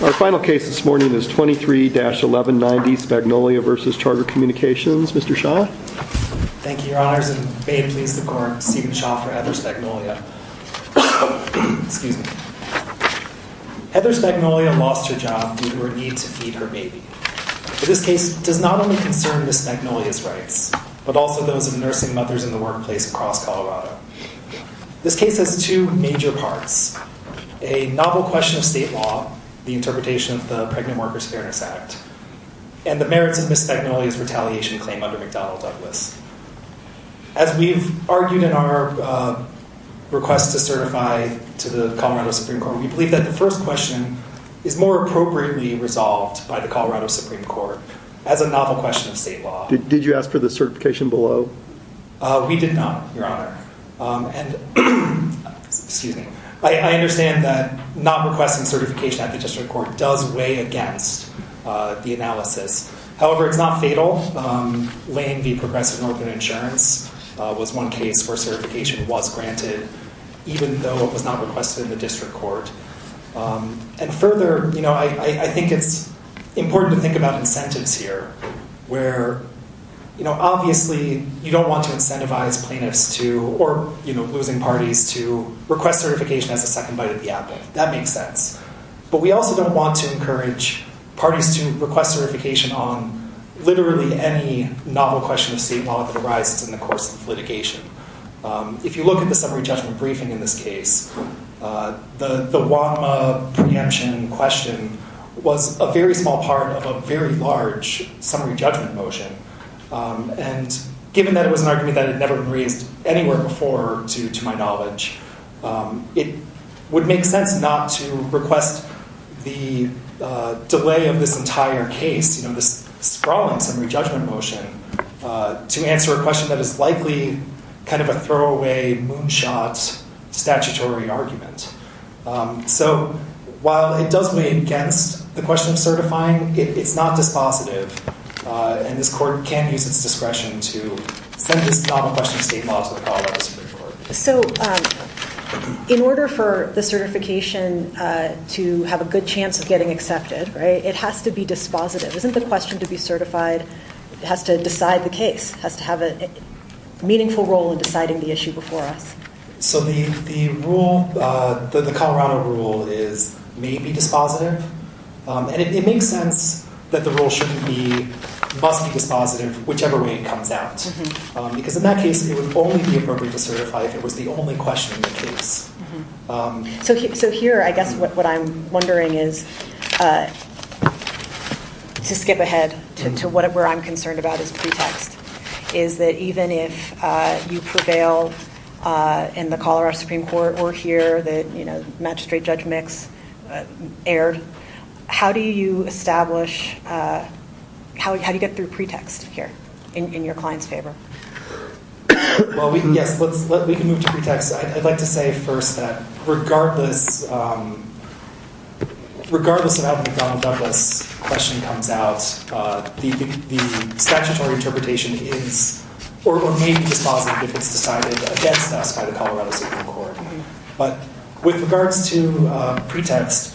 Our final case this morning is 23-1190 Spagnolia v. Charter Communications. Mr. Shaw. Thank you, your honors, and may it please the court, Stephen Shaw for Heather Spagnolia. Excuse me. Heather Spagnolia lost her job due to her need to feed her baby. This case does not only concern Ms. Spagnolia's rights, but also those of nursing mothers in the workplace across Colorado. This case has two major parts. A novel question of state law, the interpretation of the Pregnant Workers Fairness Act, and the merits of Ms. Spagnolia's retaliation claim under McDonnell Douglas. As we've argued in our request to certify to the Colorado Supreme Court, we believe that the first question is more appropriately resolved by the Colorado Supreme Court as a novel question of state law. Did you ask for the certification below? We did not, your honor. And, excuse me, I understand that not requesting certification at the district court does weigh against the analysis. However, it's not fatal. Lane v. Progressive Northern Insurance was one case where certification was granted, even though it was not requested in the district court. And further, you know, I think it's important to think about you don't want to incentivize plaintiffs to, or, you know, losing parties to request certification as a second bite of the apple. That makes sense. But we also don't want to encourage parties to request certification on literally any novel question of state law that arises in the course of litigation. If you look at the summary judgment briefing in this case, the WAMA preemption question was a very small part of a very large summary judgment motion. And given that it was an argument that had never been raised anywhere before to my knowledge, it would make sense not to request the delay of this entire case, you know, this sprawling summary judgment motion, to answer a question that is likely kind of a throwaway moonshot statutory argument. So while it does weigh against the question of certifying, it's not dispositive. And this court can use its discretion to send this novel question of state law to the progress report. So in order for the certification to have a good chance of getting accepted, right, it has to be dispositive. Isn't the question to be certified has to decide the case, has to have a meaningful role in deciding the issue before us? So the rule, the Colorado rule is maybe dispositive. And it makes sense that the rule shouldn't be, must be dispositive whichever way it comes out. Because in that case, it would only be appropriate to certify if it was the only question in the case. So here, I guess what I'm wondering is, to skip ahead to where I'm concerned about is pretext, is that even if you prevail in the Colorado Supreme Court or here that, you know, Magistrate Judge Mix erred, how do you establish, how do you get through pretext here in your client's favor? Well, we can, yes, let's, let, we can move to pretext. I'd like to say first that regardless, regardless of how the McDonnell Douglas question comes out, the statutory interpretation is, or maybe dispositive if it's decided against us by the Colorado Supreme Court. But with regards to pretext,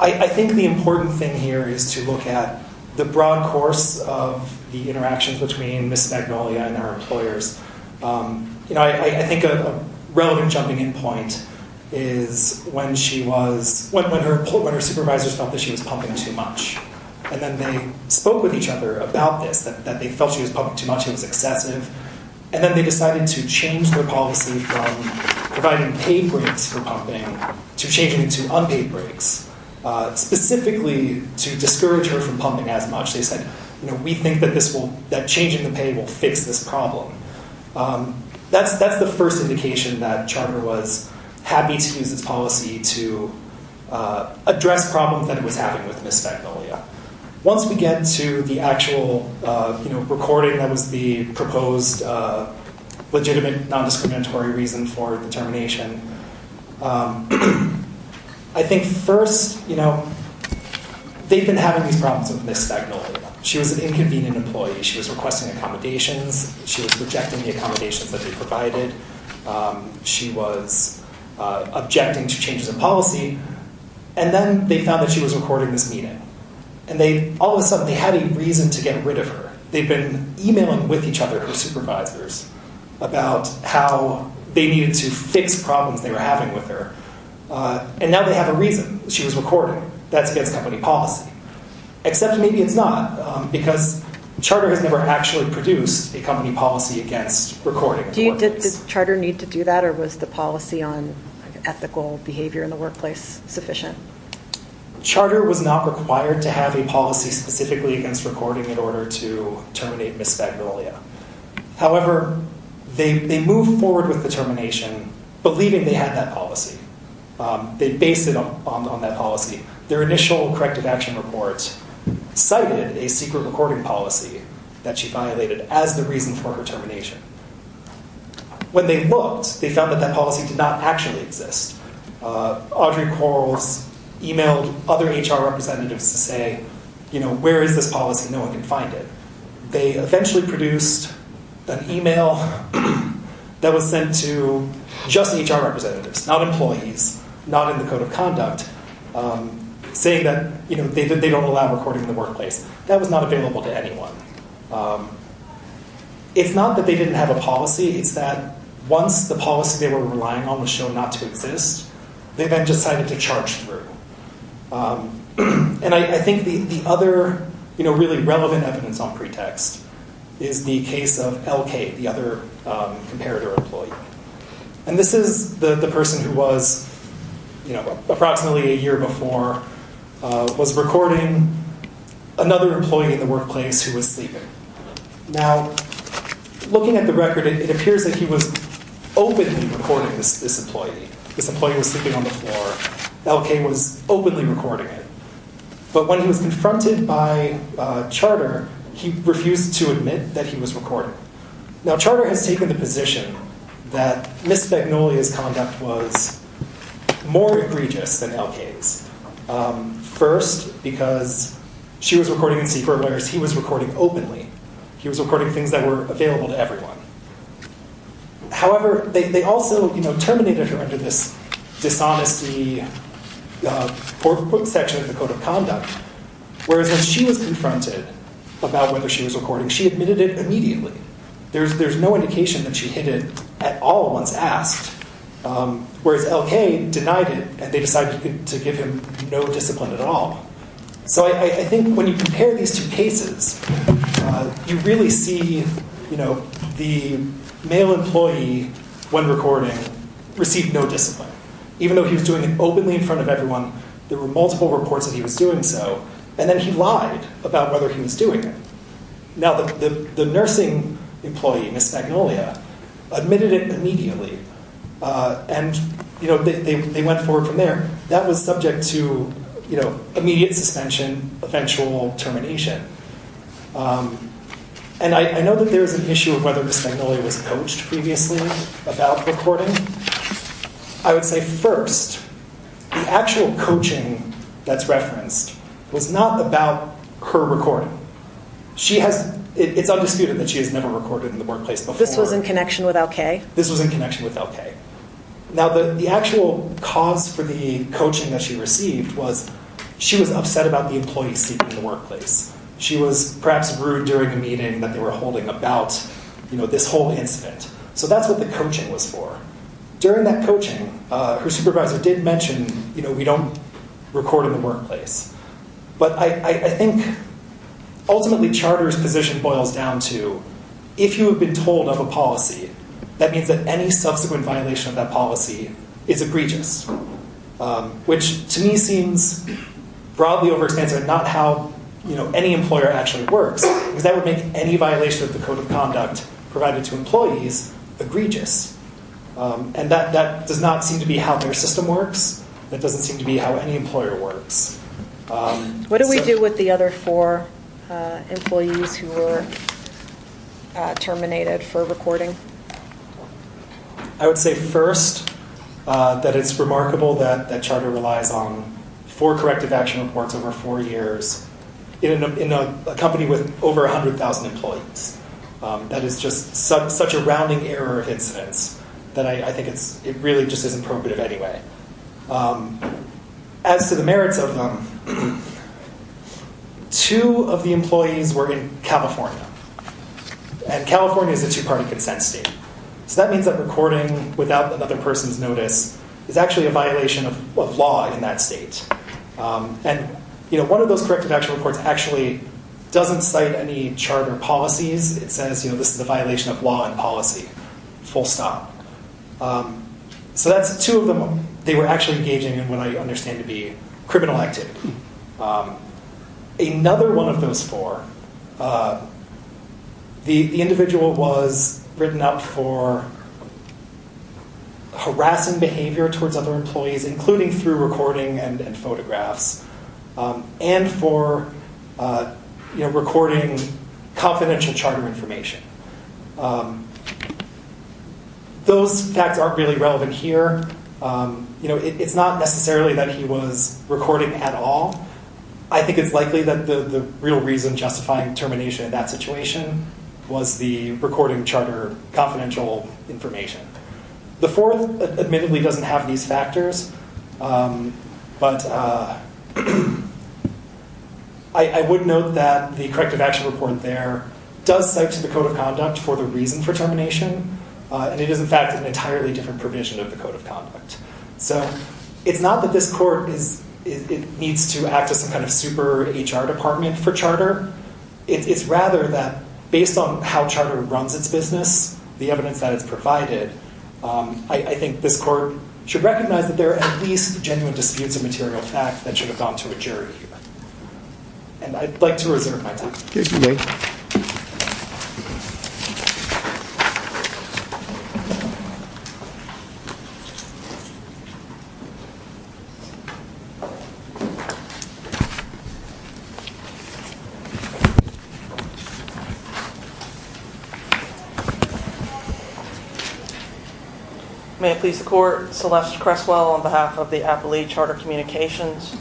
I think the important thing here is to look at the broad course of the interactions between Ms. Magnolia and her employers. You know, I think a relevant jumping in point is when she was, when her, when her supervisors felt that she was pumping too much, and then they spoke with each other about this, that they felt she was pumping too much, it was excessive. And then they decided to change their policy from providing pay breaks for pumping to changing it to unpaid breaks, specifically to discourage her from pumping as much. They said, you know, we think that this will, that changing the pay will fix this problem. That's, that's the first indication that Charter was happy to use this address problem that it was having with Ms. Magnolia. Once we get to the actual, you know, recording that was the proposed legitimate non-discriminatory reason for the termination, I think first, you know, they've been having these problems with Ms. Magnolia. She was an inconvenient employee. She was requesting accommodations. She was rejecting the And then they found that she was recording this meeting. And they, all of a sudden, they had a reason to get rid of her. They've been emailing with each other, her supervisors, about how they needed to fix problems they were having with her. And now they have a reason. She was recording. That's against company policy. Except maybe it's not, because Charter has never actually produced a company policy against recording. Did Charter need to do that? Or was the policy on ethical behavior in the workplace sufficient? Charter was not required to have a policy specifically against recording in order to terminate Ms. Magnolia. However, they moved forward with the termination, believing they had that policy. They based it on that policy. Their initial corrective action report cited a secret recording policy that she violated as the reason for her termination. When they looked, they found that that policy did not actually exist. Audrey Corls emailed other HR representatives to say, you know, where is this policy? No one can find it. They eventually produced an email that was sent to just HR representatives, not employees, not in the code of conduct, saying that, you know, they don't allow recording in the workplace. That was not available to anyone. It's not that they didn't have a policy. It's that once the policy they were relying on was shown not to exist, they then decided to charge through. And I think the other, you know, really relevant evidence on pretext is the case of LK, the other comparator employee. And this is the person who was, approximately a year before, was recording another employee in the workplace who was sleeping. Now, looking at the record, it appears that he was openly recording this employee. This employee was sleeping on the floor. LK was openly recording it. But when he was confronted by Charter, he refused to admit that he was recording. Now, Charter has taken the position that Ms. Magnolia's was more egregious than LK's. First, because she was recording in secret, whereas he was recording openly. He was recording things that were available to everyone. However, they also, you know, terminated her under this dishonesty section of the code of conduct. Whereas when she was confronted about whether she was recording, she admitted it immediately. There's no indication that she hid it at all once asked. Whereas LK denied it and they decided to give him no discipline at all. So I think when you compare these two cases, you really see, you know, the male employee, when recording, received no discipline. Even though he was doing it openly in front of everyone, there were multiple reports that he was doing so. And then he lied about whether he was doing it. Now, the nursing employee, Ms. Magnolia, admitted it immediately. And, you know, they went forward from there. That was subject to, you know, immediate suspension, eventual termination. And I know that there is an issue of whether Ms. Magnolia was coached previously about recording. I would say, first, the actual coaching that's referenced was not about her recording. She has, it's undisputed that she has never recorded in the workplace before. This was in connection with LK? This was in connection with LK. Now, the actual cause for the coaching that she received was, she was upset about the employees sleeping in the workplace. She was perhaps rude during a meeting that they were holding about, you know, this whole incident. So that's what the coaching was for. During that coaching, her supervisor did mention, you know, we don't record in the workplace. But I think ultimately charter's position boils down to, if you have been told of a policy, that means that any subsequent violation of that policy is egregious. Which to me seems broadly overexpansive and not how, you know, any employer actually works. Because that would make any violation of the code of conduct provided to employees egregious. And that does not seem to be how their system works. It doesn't seem to be how any employer works. What do we do with the other four employees who were terminated for recording? I would say, first, that it's remarkable that charter relies on four corrective action reports over four years in a company with over 100,000 employees. That is just such a rounding error of incidents that I think it really just isn't prohibitive anyway. As to the merits of them, two of the employees were in California. And California is a two-party consent state. So that means that recording without another person's notice is actually a violation of law in that state. And, you know, one of those corrective action reports actually doesn't cite any charter policies. It says, you know, this is a violation of law and policy. Full stop. So that's two of them. They were actually engaging in what I understand to be criminal activity. Another one of those four, the individual was written up for harassing behavior towards other employees, including through recording and photographs, and for recording confidential charter information. Those facts aren't really relevant here. It's not necessarily that he was recording at all. I think it's likely that the real reason justifying termination in that situation was the recording charter confidential information. The fourth, admittedly, doesn't have these factors. But I would note that the corrective action report there does cite to the Code of Conduct for the reason for termination. And it is, in fact, an entirely different provision of the Code of Conduct. So it's not that this court needs to act as some kind of super HR department for charter. It's rather that based on how charter runs its business, the evidence that is provided, I think this court should recognize that there are at least genuine disputes of material fact that should have gone to a jury here. And I'd like to reserve my time. Thank you, Mayor. Thank you. May it please the Court, Celeste Creswell on behalf of the Appalachia Charter Communications.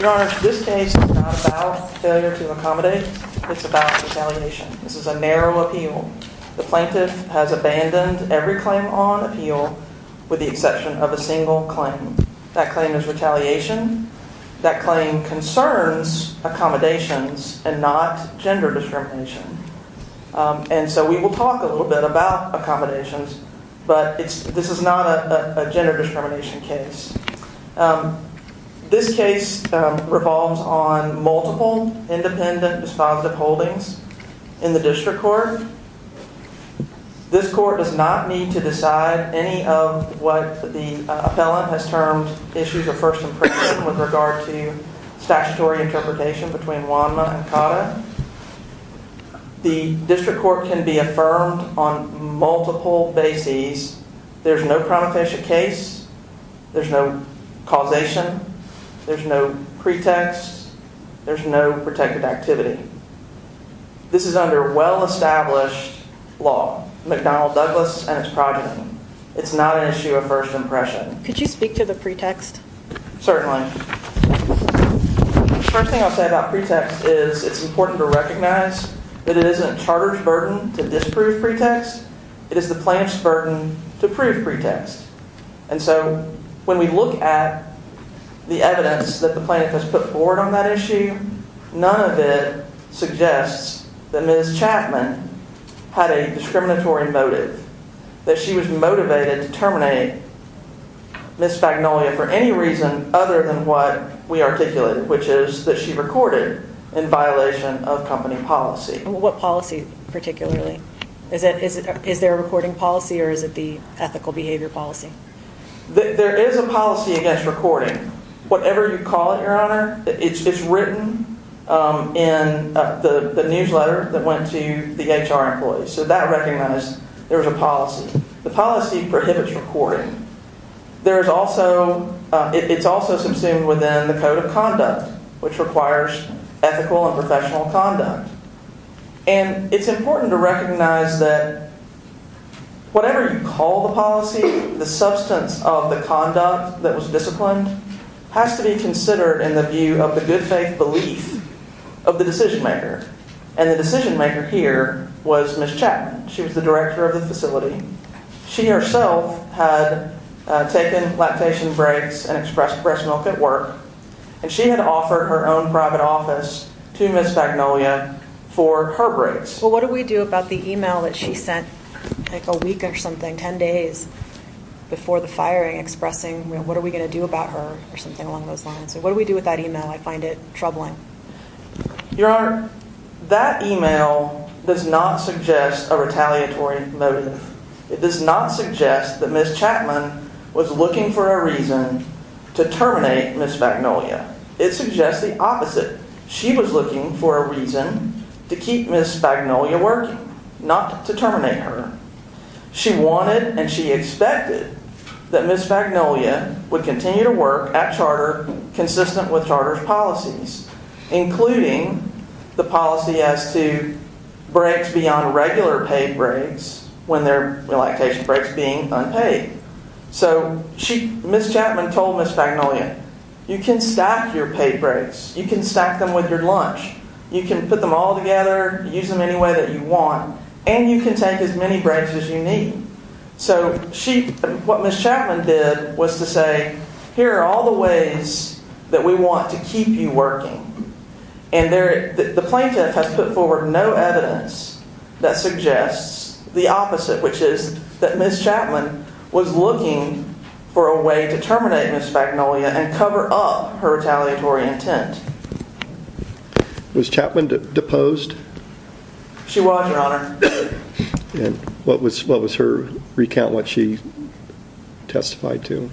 Your Honor, this case is not about failure to accommodate. It's about retaliation. This is a narrow appeal. The plaintiff has abandoned every claim on appeal with the exception of a single claim. That claim is retaliation. That claim concerns accommodations and not gender discrimination. And so we will talk a little bit about accommodations, but this is not a gender discrimination case. This case revolves on multiple independent dispositive holdings in the district court. This court does not need to decide any of what the appellant has termed issues of first impression with regard to statutory interpretation between WANMA and CAUTA. The district court can be affirmed on multiple bases. There's no promotation case. There's no causation. There's no pretext. There's no protected activity. This is under well-established law, McDonnell-Douglas and its progeny. It's not an issue of first impression. Could you speak to the pretext? Certainly. The first thing I'll say about pretext is it's important to recognize that it isn't charter's burden to disprove pretext. It is the plaintiff's burden to prove pretext. And so when we look at the evidence that the plaintiff has put forward on that issue, none of it suggests that Ms. Chapman had a discriminatory motive, that she was motivated to terminate Ms. Fagnolia for any reason other than what we articulated, which is that she recorded in violation of company policy. What policy particularly? Is there a recording policy or is it the ethical behavior policy? There is a policy against recording, whatever you call it, your honor. It's written in the newsletter that went to the HR employees. So that recognized there was a policy. The policy prohibits recording. It's also subsumed within the code of conduct, which requires ethical and professional conduct. And it's important to recognize that whatever you call the policy, the substance of the conduct that was disciplined has to be considered in the view of the good faith belief of the decision maker. And the decision here was Ms. Chapman. She was the director of the facility. She herself had taken lactation breaks and expressed breast milk at work. And she had offered her own private office to Ms. Fagnolia for her breaks. Well, what do we do about the email that she sent like a week or something, 10 days before the firing expressing what are we going to do about her or something along those lines? So what do we do with that email? I find it troubling. Your honor, that email does not suggest a retaliatory motive. It does not suggest that Ms. Chapman was looking for a reason to terminate Ms. Fagnolia. It suggests the opposite. She was looking for a reason to keep Ms. Fagnolia working, not to terminate her. She wanted and she expected that Ms. Fagnolia would continue to work at Charter consistent with Charter's policies, including the policy as to breaks beyond regular paid breaks when their lactation breaks being unpaid. So Ms. Chapman told Ms. Fagnolia, you can stack your paid breaks. You can stack them with your lunch. You can put them all together, use them any way that you want, and you can take as many breaks as you need. So what Ms. Chapman did was to say, here are all the ways that we want to keep you working. And the plaintiff has put forward no evidence that suggests the opposite, which is that Ms. Chapman was looking for a way to terminate Ms. Fagnolia and cover up her retaliatory intent. Was Chapman deposed? She was, your honor. And what was her recount, what she testified to?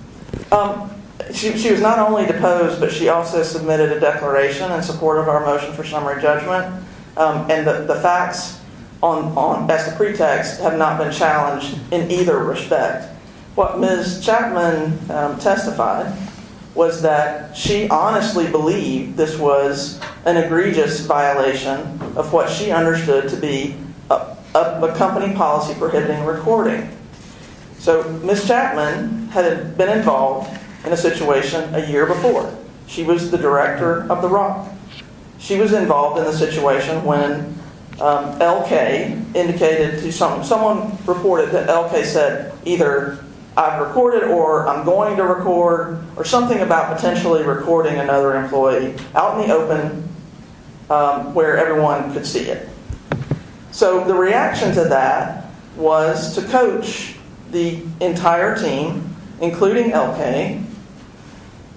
She was not only deposed, but she also submitted a declaration in support of our motion for summary judgment. And the facts as the pretext have not been challenged in either respect. What Ms. Chapman testified was that she honestly believed this was an egregious violation of what she understood to be a company policy prohibiting recording. So Ms. Chapman had been involved in a situation a year before. She was the director of the ROC. She was involved in the situation when LK indicated to someone, someone reported that LK said either I've recorded or I'm going to record or something about potentially recording another employee out in the open where everyone could see it. So the reaction to that was to coach the entire team, including LK,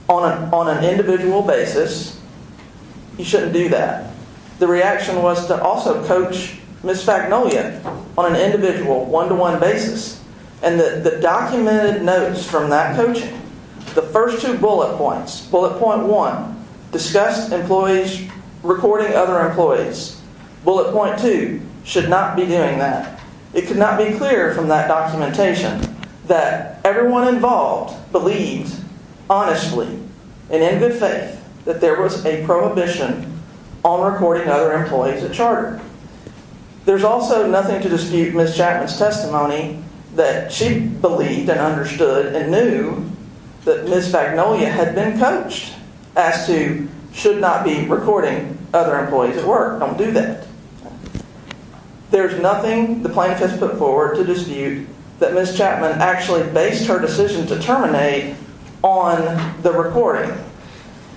on an individual basis. You shouldn't do that. The reaction was to also coach Ms. Fagnolia on an individual one-to-one basis. And the documented notes from that coaching, the first two bullet points, bullet point one, discussed employees recording other that everyone involved believes honestly and in good faith that there was a prohibition on recording other employees at charter. There's also nothing to dispute Ms. Chapman's testimony that she believed and understood and knew that Ms. Fagnolia had been coached as to should not be recording other employees at work. Don't do that. There's nothing the plaintiff has put forward to dispute that Ms. Chapman actually based her decision to terminate on the recording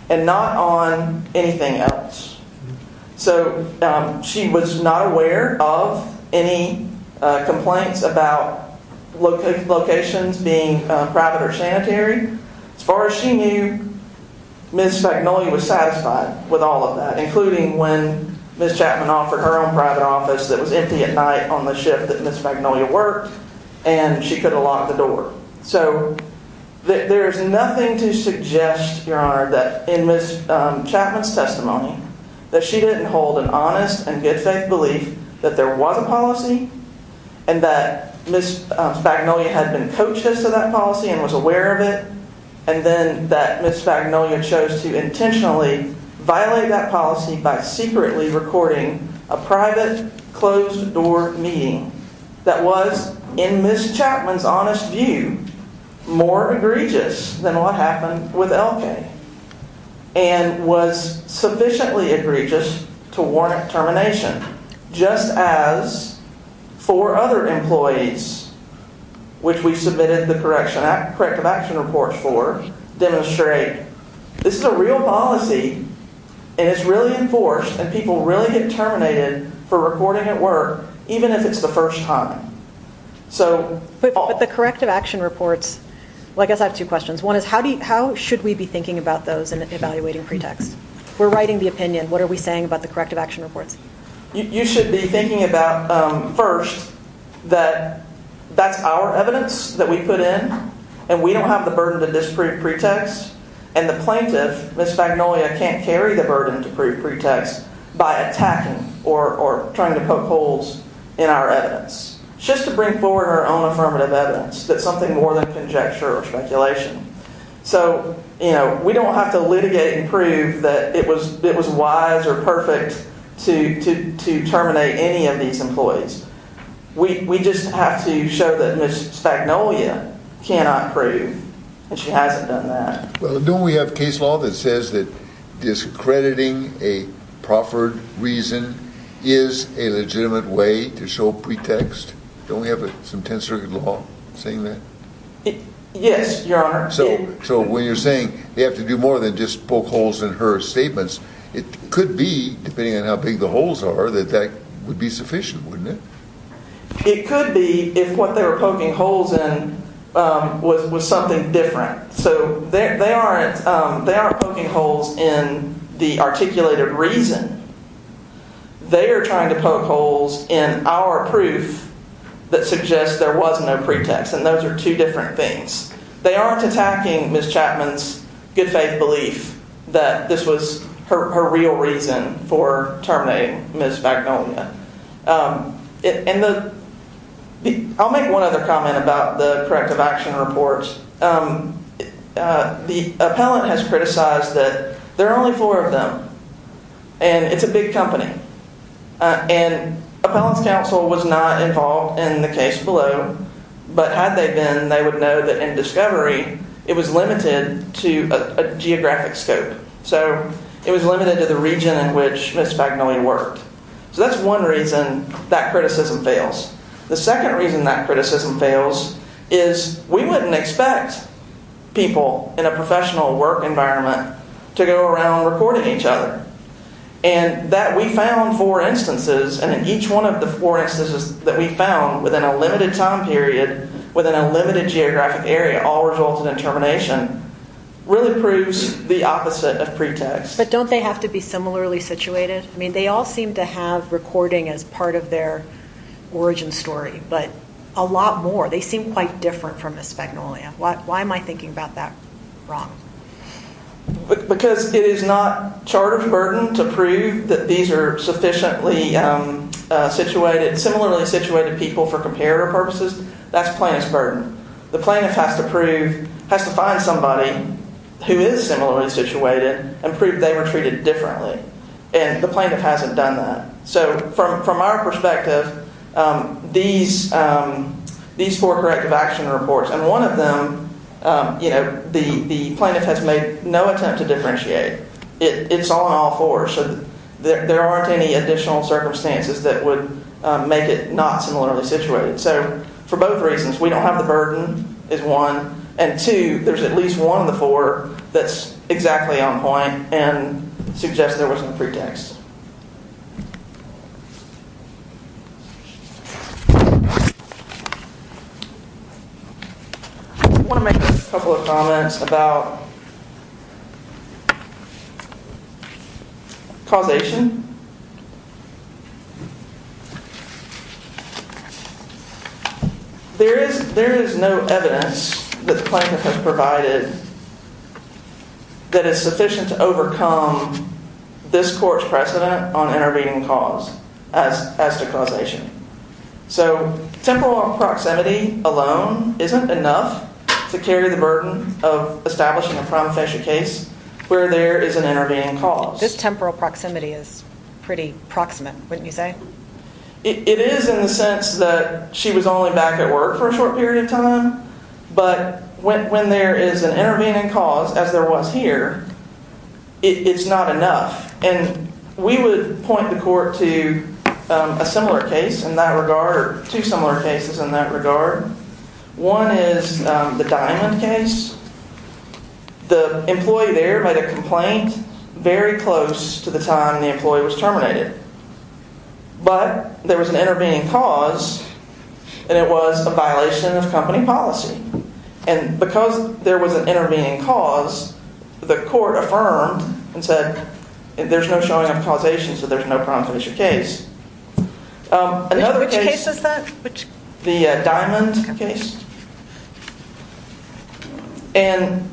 and not on anything else. So she was not aware of any complaints about locations being private or sanitary. As far as she knew, Ms. Fagnolia was satisfied with all of that, including when Ms. Chapman offered her own private office that was empty at night on the shift that Ms. Fagnolia worked, and she could have locked the door. So there's nothing to suggest, Your Honor, that in Ms. Chapman's testimony that she didn't hold an honest and good faith belief that there was a policy and that Ms. Fagnolia had been coached as to that policy and was aware of it, and then that Ms. Fagnolia chose to intentionally violate that policy by secretly recording a private closed door meeting that was, in Ms. Chapman's honest view, more egregious than what happened with Elkay and was sufficiently egregious to warrant termination, just as four other employees, which we submitted the corrective action reports for, demonstrate this is a real policy and it's really enforced and people really get terminated for recording at work, even if it's the first time. But the corrective action reports, I guess I have two questions. One is how should we be thinking about those in evaluating pretext? We're writing the opinion. What are we saying about the corrective action reports? You should be thinking about first that that's our evidence that we put in and we don't have the burden to disprove pretext and the plaintiff, Ms. Fagnolia, can't carry the burden to prove pretext by attacking or trying to poke holes in our evidence just to bring forward her own affirmative evidence that's something more than conjecture or speculation. So we don't have to litigate and prove that it was wise or perfect to terminate any of these employees. We just have to show that Ms. Fagnolia cannot prove and she hasn't done that. Well, don't we have case law that says that discrediting a proffered reason is a legitimate way to show pretext? Don't we have some 10th Circuit law saying that? Yes, Your Honor. So when you're saying you have to do more than just poke holes in her statements, it could be, depending on how big the holes are, that that would be sufficient, wouldn't it? It could be if what they were poking holes in was something different. So they aren't poking holes in the articulated reason. They are trying to poke holes in our proof that suggests there was no pretext and those are two different things. They aren't attacking Ms. Chapman's good faith belief that this was her real reason for terminating Ms. Fagnolia. I'll make one other comment about the corrective action reports. The appellant has criticized that there are only four of them and it's a big company. And appellant's counsel was not involved in the case below, but had they been, they would know that in discovery it was limited to a geographic scope. So it was limited to the region in which Ms. Fagnolia worked. So that's one reason that criticism fails. The second reason that criticism fails is we wouldn't expect people in a professional work environment to go around recording each other. And that we found four instances and in each one of the four instances that we found within a limited time period, within a limited geographic area, all resulted in termination, really proves the opposite of pretext. But don't they have to be similarly situated? I seem to have recording as part of their origin story, but a lot more. They seem quite different from Ms. Fagnolia. Why am I thinking about that wrong? Because it is not charter's burden to prove that these are sufficiently situated, similarly situated people for comparative purposes. That's plaintiff's burden. The plaintiff has to prove, has to find somebody who is similarly situated and prove they were treated differently. And the plaintiff hasn't done that. So from our perspective, these four corrective action reports, and one of them, you know, the plaintiff has made no attempt to differentiate. It's on all four. So there aren't any additional circumstances that would make it not similarly situated. So for both reasons, we don't have the burden is one. And two, there's at least one of the four that's exactly on point and suggests there wasn't a pretext. I want to make a couple of comments about causation. There is no evidence that the plaintiff has provided that is sufficient to overcome this court's precedent on intervening cause as to causation. So temporal proximity alone isn't enough to carry the burden of establishing a prime official case where there is an intervening cause. This temporal proximity is pretty proximate, wouldn't you say? It is in the sense that she was only back at work for a short period of time. But when there is an intervening cause, as there was here, it's not enough. And we would point the court to a similar case in that regard, two similar cases in that regard. One is the Diamond case. The employee there made a complaint very close to the time the employee was terminated. But there was an intervening cause and it was a violation of company policy. And because there was an intervening cause, the court affirmed and said there's no showing of causation, so there's no prime official case. Which case is that? The Diamond case. And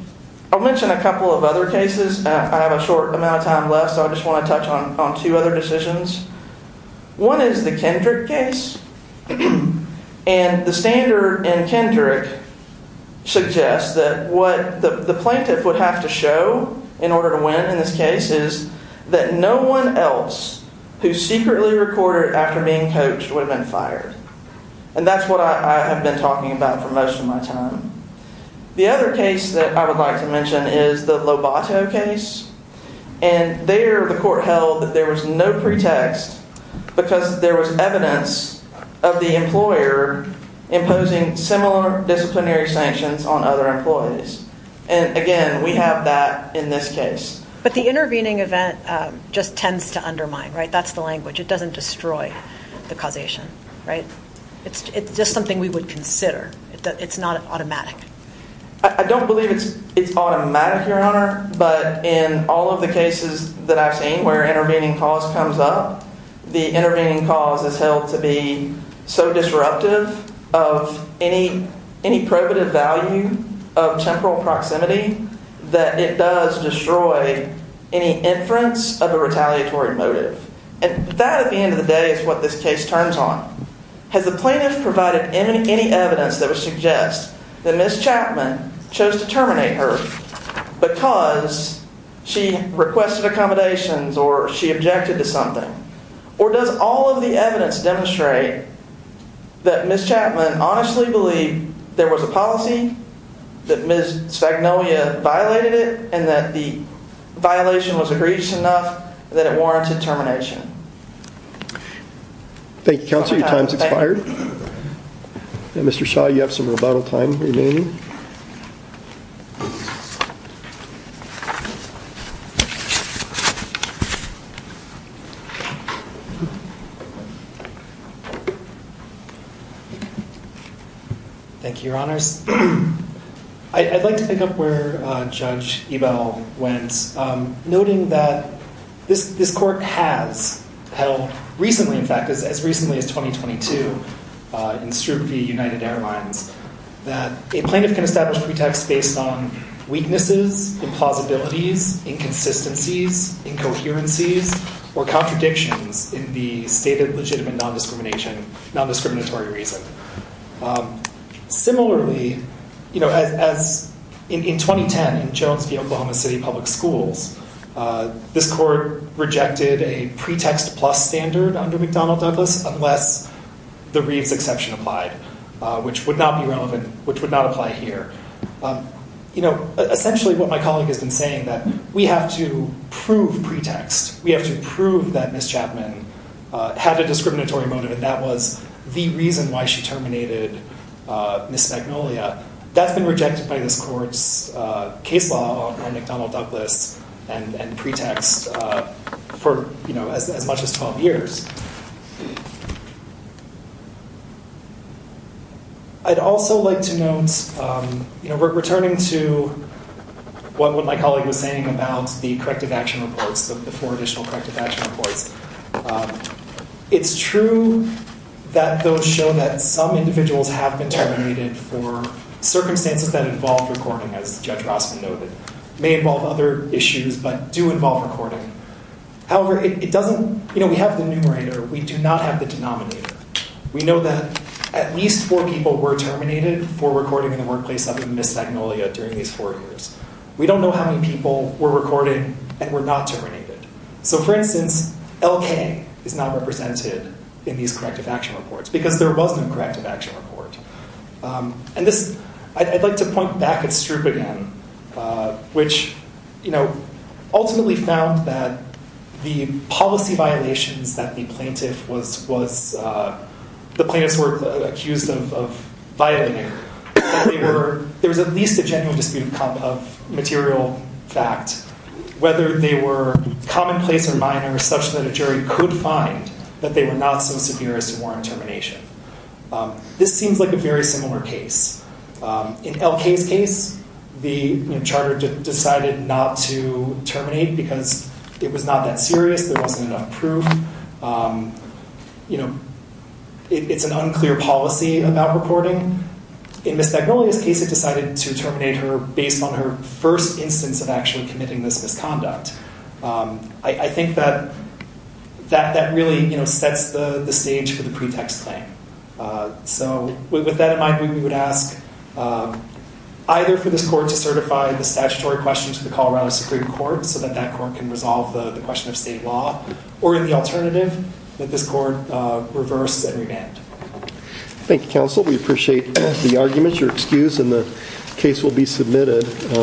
I'll mention a couple of other cases. I have a short amount of time left, so I just want to touch on two other decisions. One is the Kendrick case. And the standard in Kendrick suggests that what the plaintiff would have to show in order to win in this case is that no one else who secretly recorded after being coached would have been fired. And that's what I have been talking about for most of my time. The other case that I would like to mention is the Lobato case. And there the court held that there was no pretext because there was evidence of the employer imposing similar disciplinary sanctions on other employees. And again, we have that in this case. But the intervening event just tends to undermine, right? That's the language. It doesn't destroy the causation, right? It's just something we would consider. It's not automatic. I don't believe it's automatic, Your Honor. But in all of the cases that I've seen where intervening cause comes up, the intervening cause is held to be so disruptive of any probative value of temporal proximity that it does destroy any inference of a retaliatory motive. And that, at the end of the day, is what this case turns on. Has the plaintiff provided any evidence that would suggest that Ms. Chapman chose to terminate her because she requested accommodations or she objected to something? Or does all of the evidence demonstrate that Ms. Chapman honestly believed there was a policy, that Ms. Spagnolia violated it, and that the violation was egregious enough that it warranted termination? Thank you, Counselor. Your time has expired. Mr. Shaw, you have some rebuttal time remaining. Thank you, Your Honors. I'd like to pick up where Judge Ebell went, noting that this court has held recently, in fact, as recently as 2022, in Stroop v. United Airlines, that a plaintiff can establish pretext based on weaknesses, implausibilities, inconsistencies, incoherencies, or contradictions in the stated legitimate non-discrimination, non-discriminatory reason. Similarly, in 2010, in Jones v. Oklahoma City Public Schools, this court rejected a pretext plus standard under McDonnell Douglas unless the Reeves exception applied, which would not be relevant, which would not apply here. Essentially what my pretext is, we have to prove that Ms. Chapman had a discriminatory motive, and that was the reason why she terminated Ms. Spagnolia. That's been rejected by this court's case law under McDonnell Douglas and pretext for as much as 12 years. I'd also like to note, returning to what my the four additional corrective action reports, it's true that those show that some individuals have been terminated for circumstances that involve recording, as Judge Rossman noted. May involve other issues, but do involve recording. However, we have the numerator, we do not have the denominator. We know that at least four people were terminated for recording in the workplace of Ms. Spagnolia during these four years. We don't know how many people were not terminated. For instance, LK is not represented in these corrective action reports, because there was no corrective action report. I'd like to point back at Stroop again, which ultimately found that the policy violations that the plaintiffs were accused of violating, that there was at least a genuine dispute of material fact, whether they were commonplace or minor, such that a jury could find that they were not so severe as to warrant termination. This seems like a very similar case. In LK's case, the charter decided not to terminate because it was not that serious, there wasn't enough proof. It's an unclear policy about reporting, in Ms. Spagnolia's case, it decided to terminate her based on her first instance of actually committing this misconduct. I think that that really sets the stage for the pretext claim. With that in mind, we would ask either for this court to certify the statutory question to the Colorado Supreme Court so that that court can resolve the question of state law, or in the in the case will be submitted.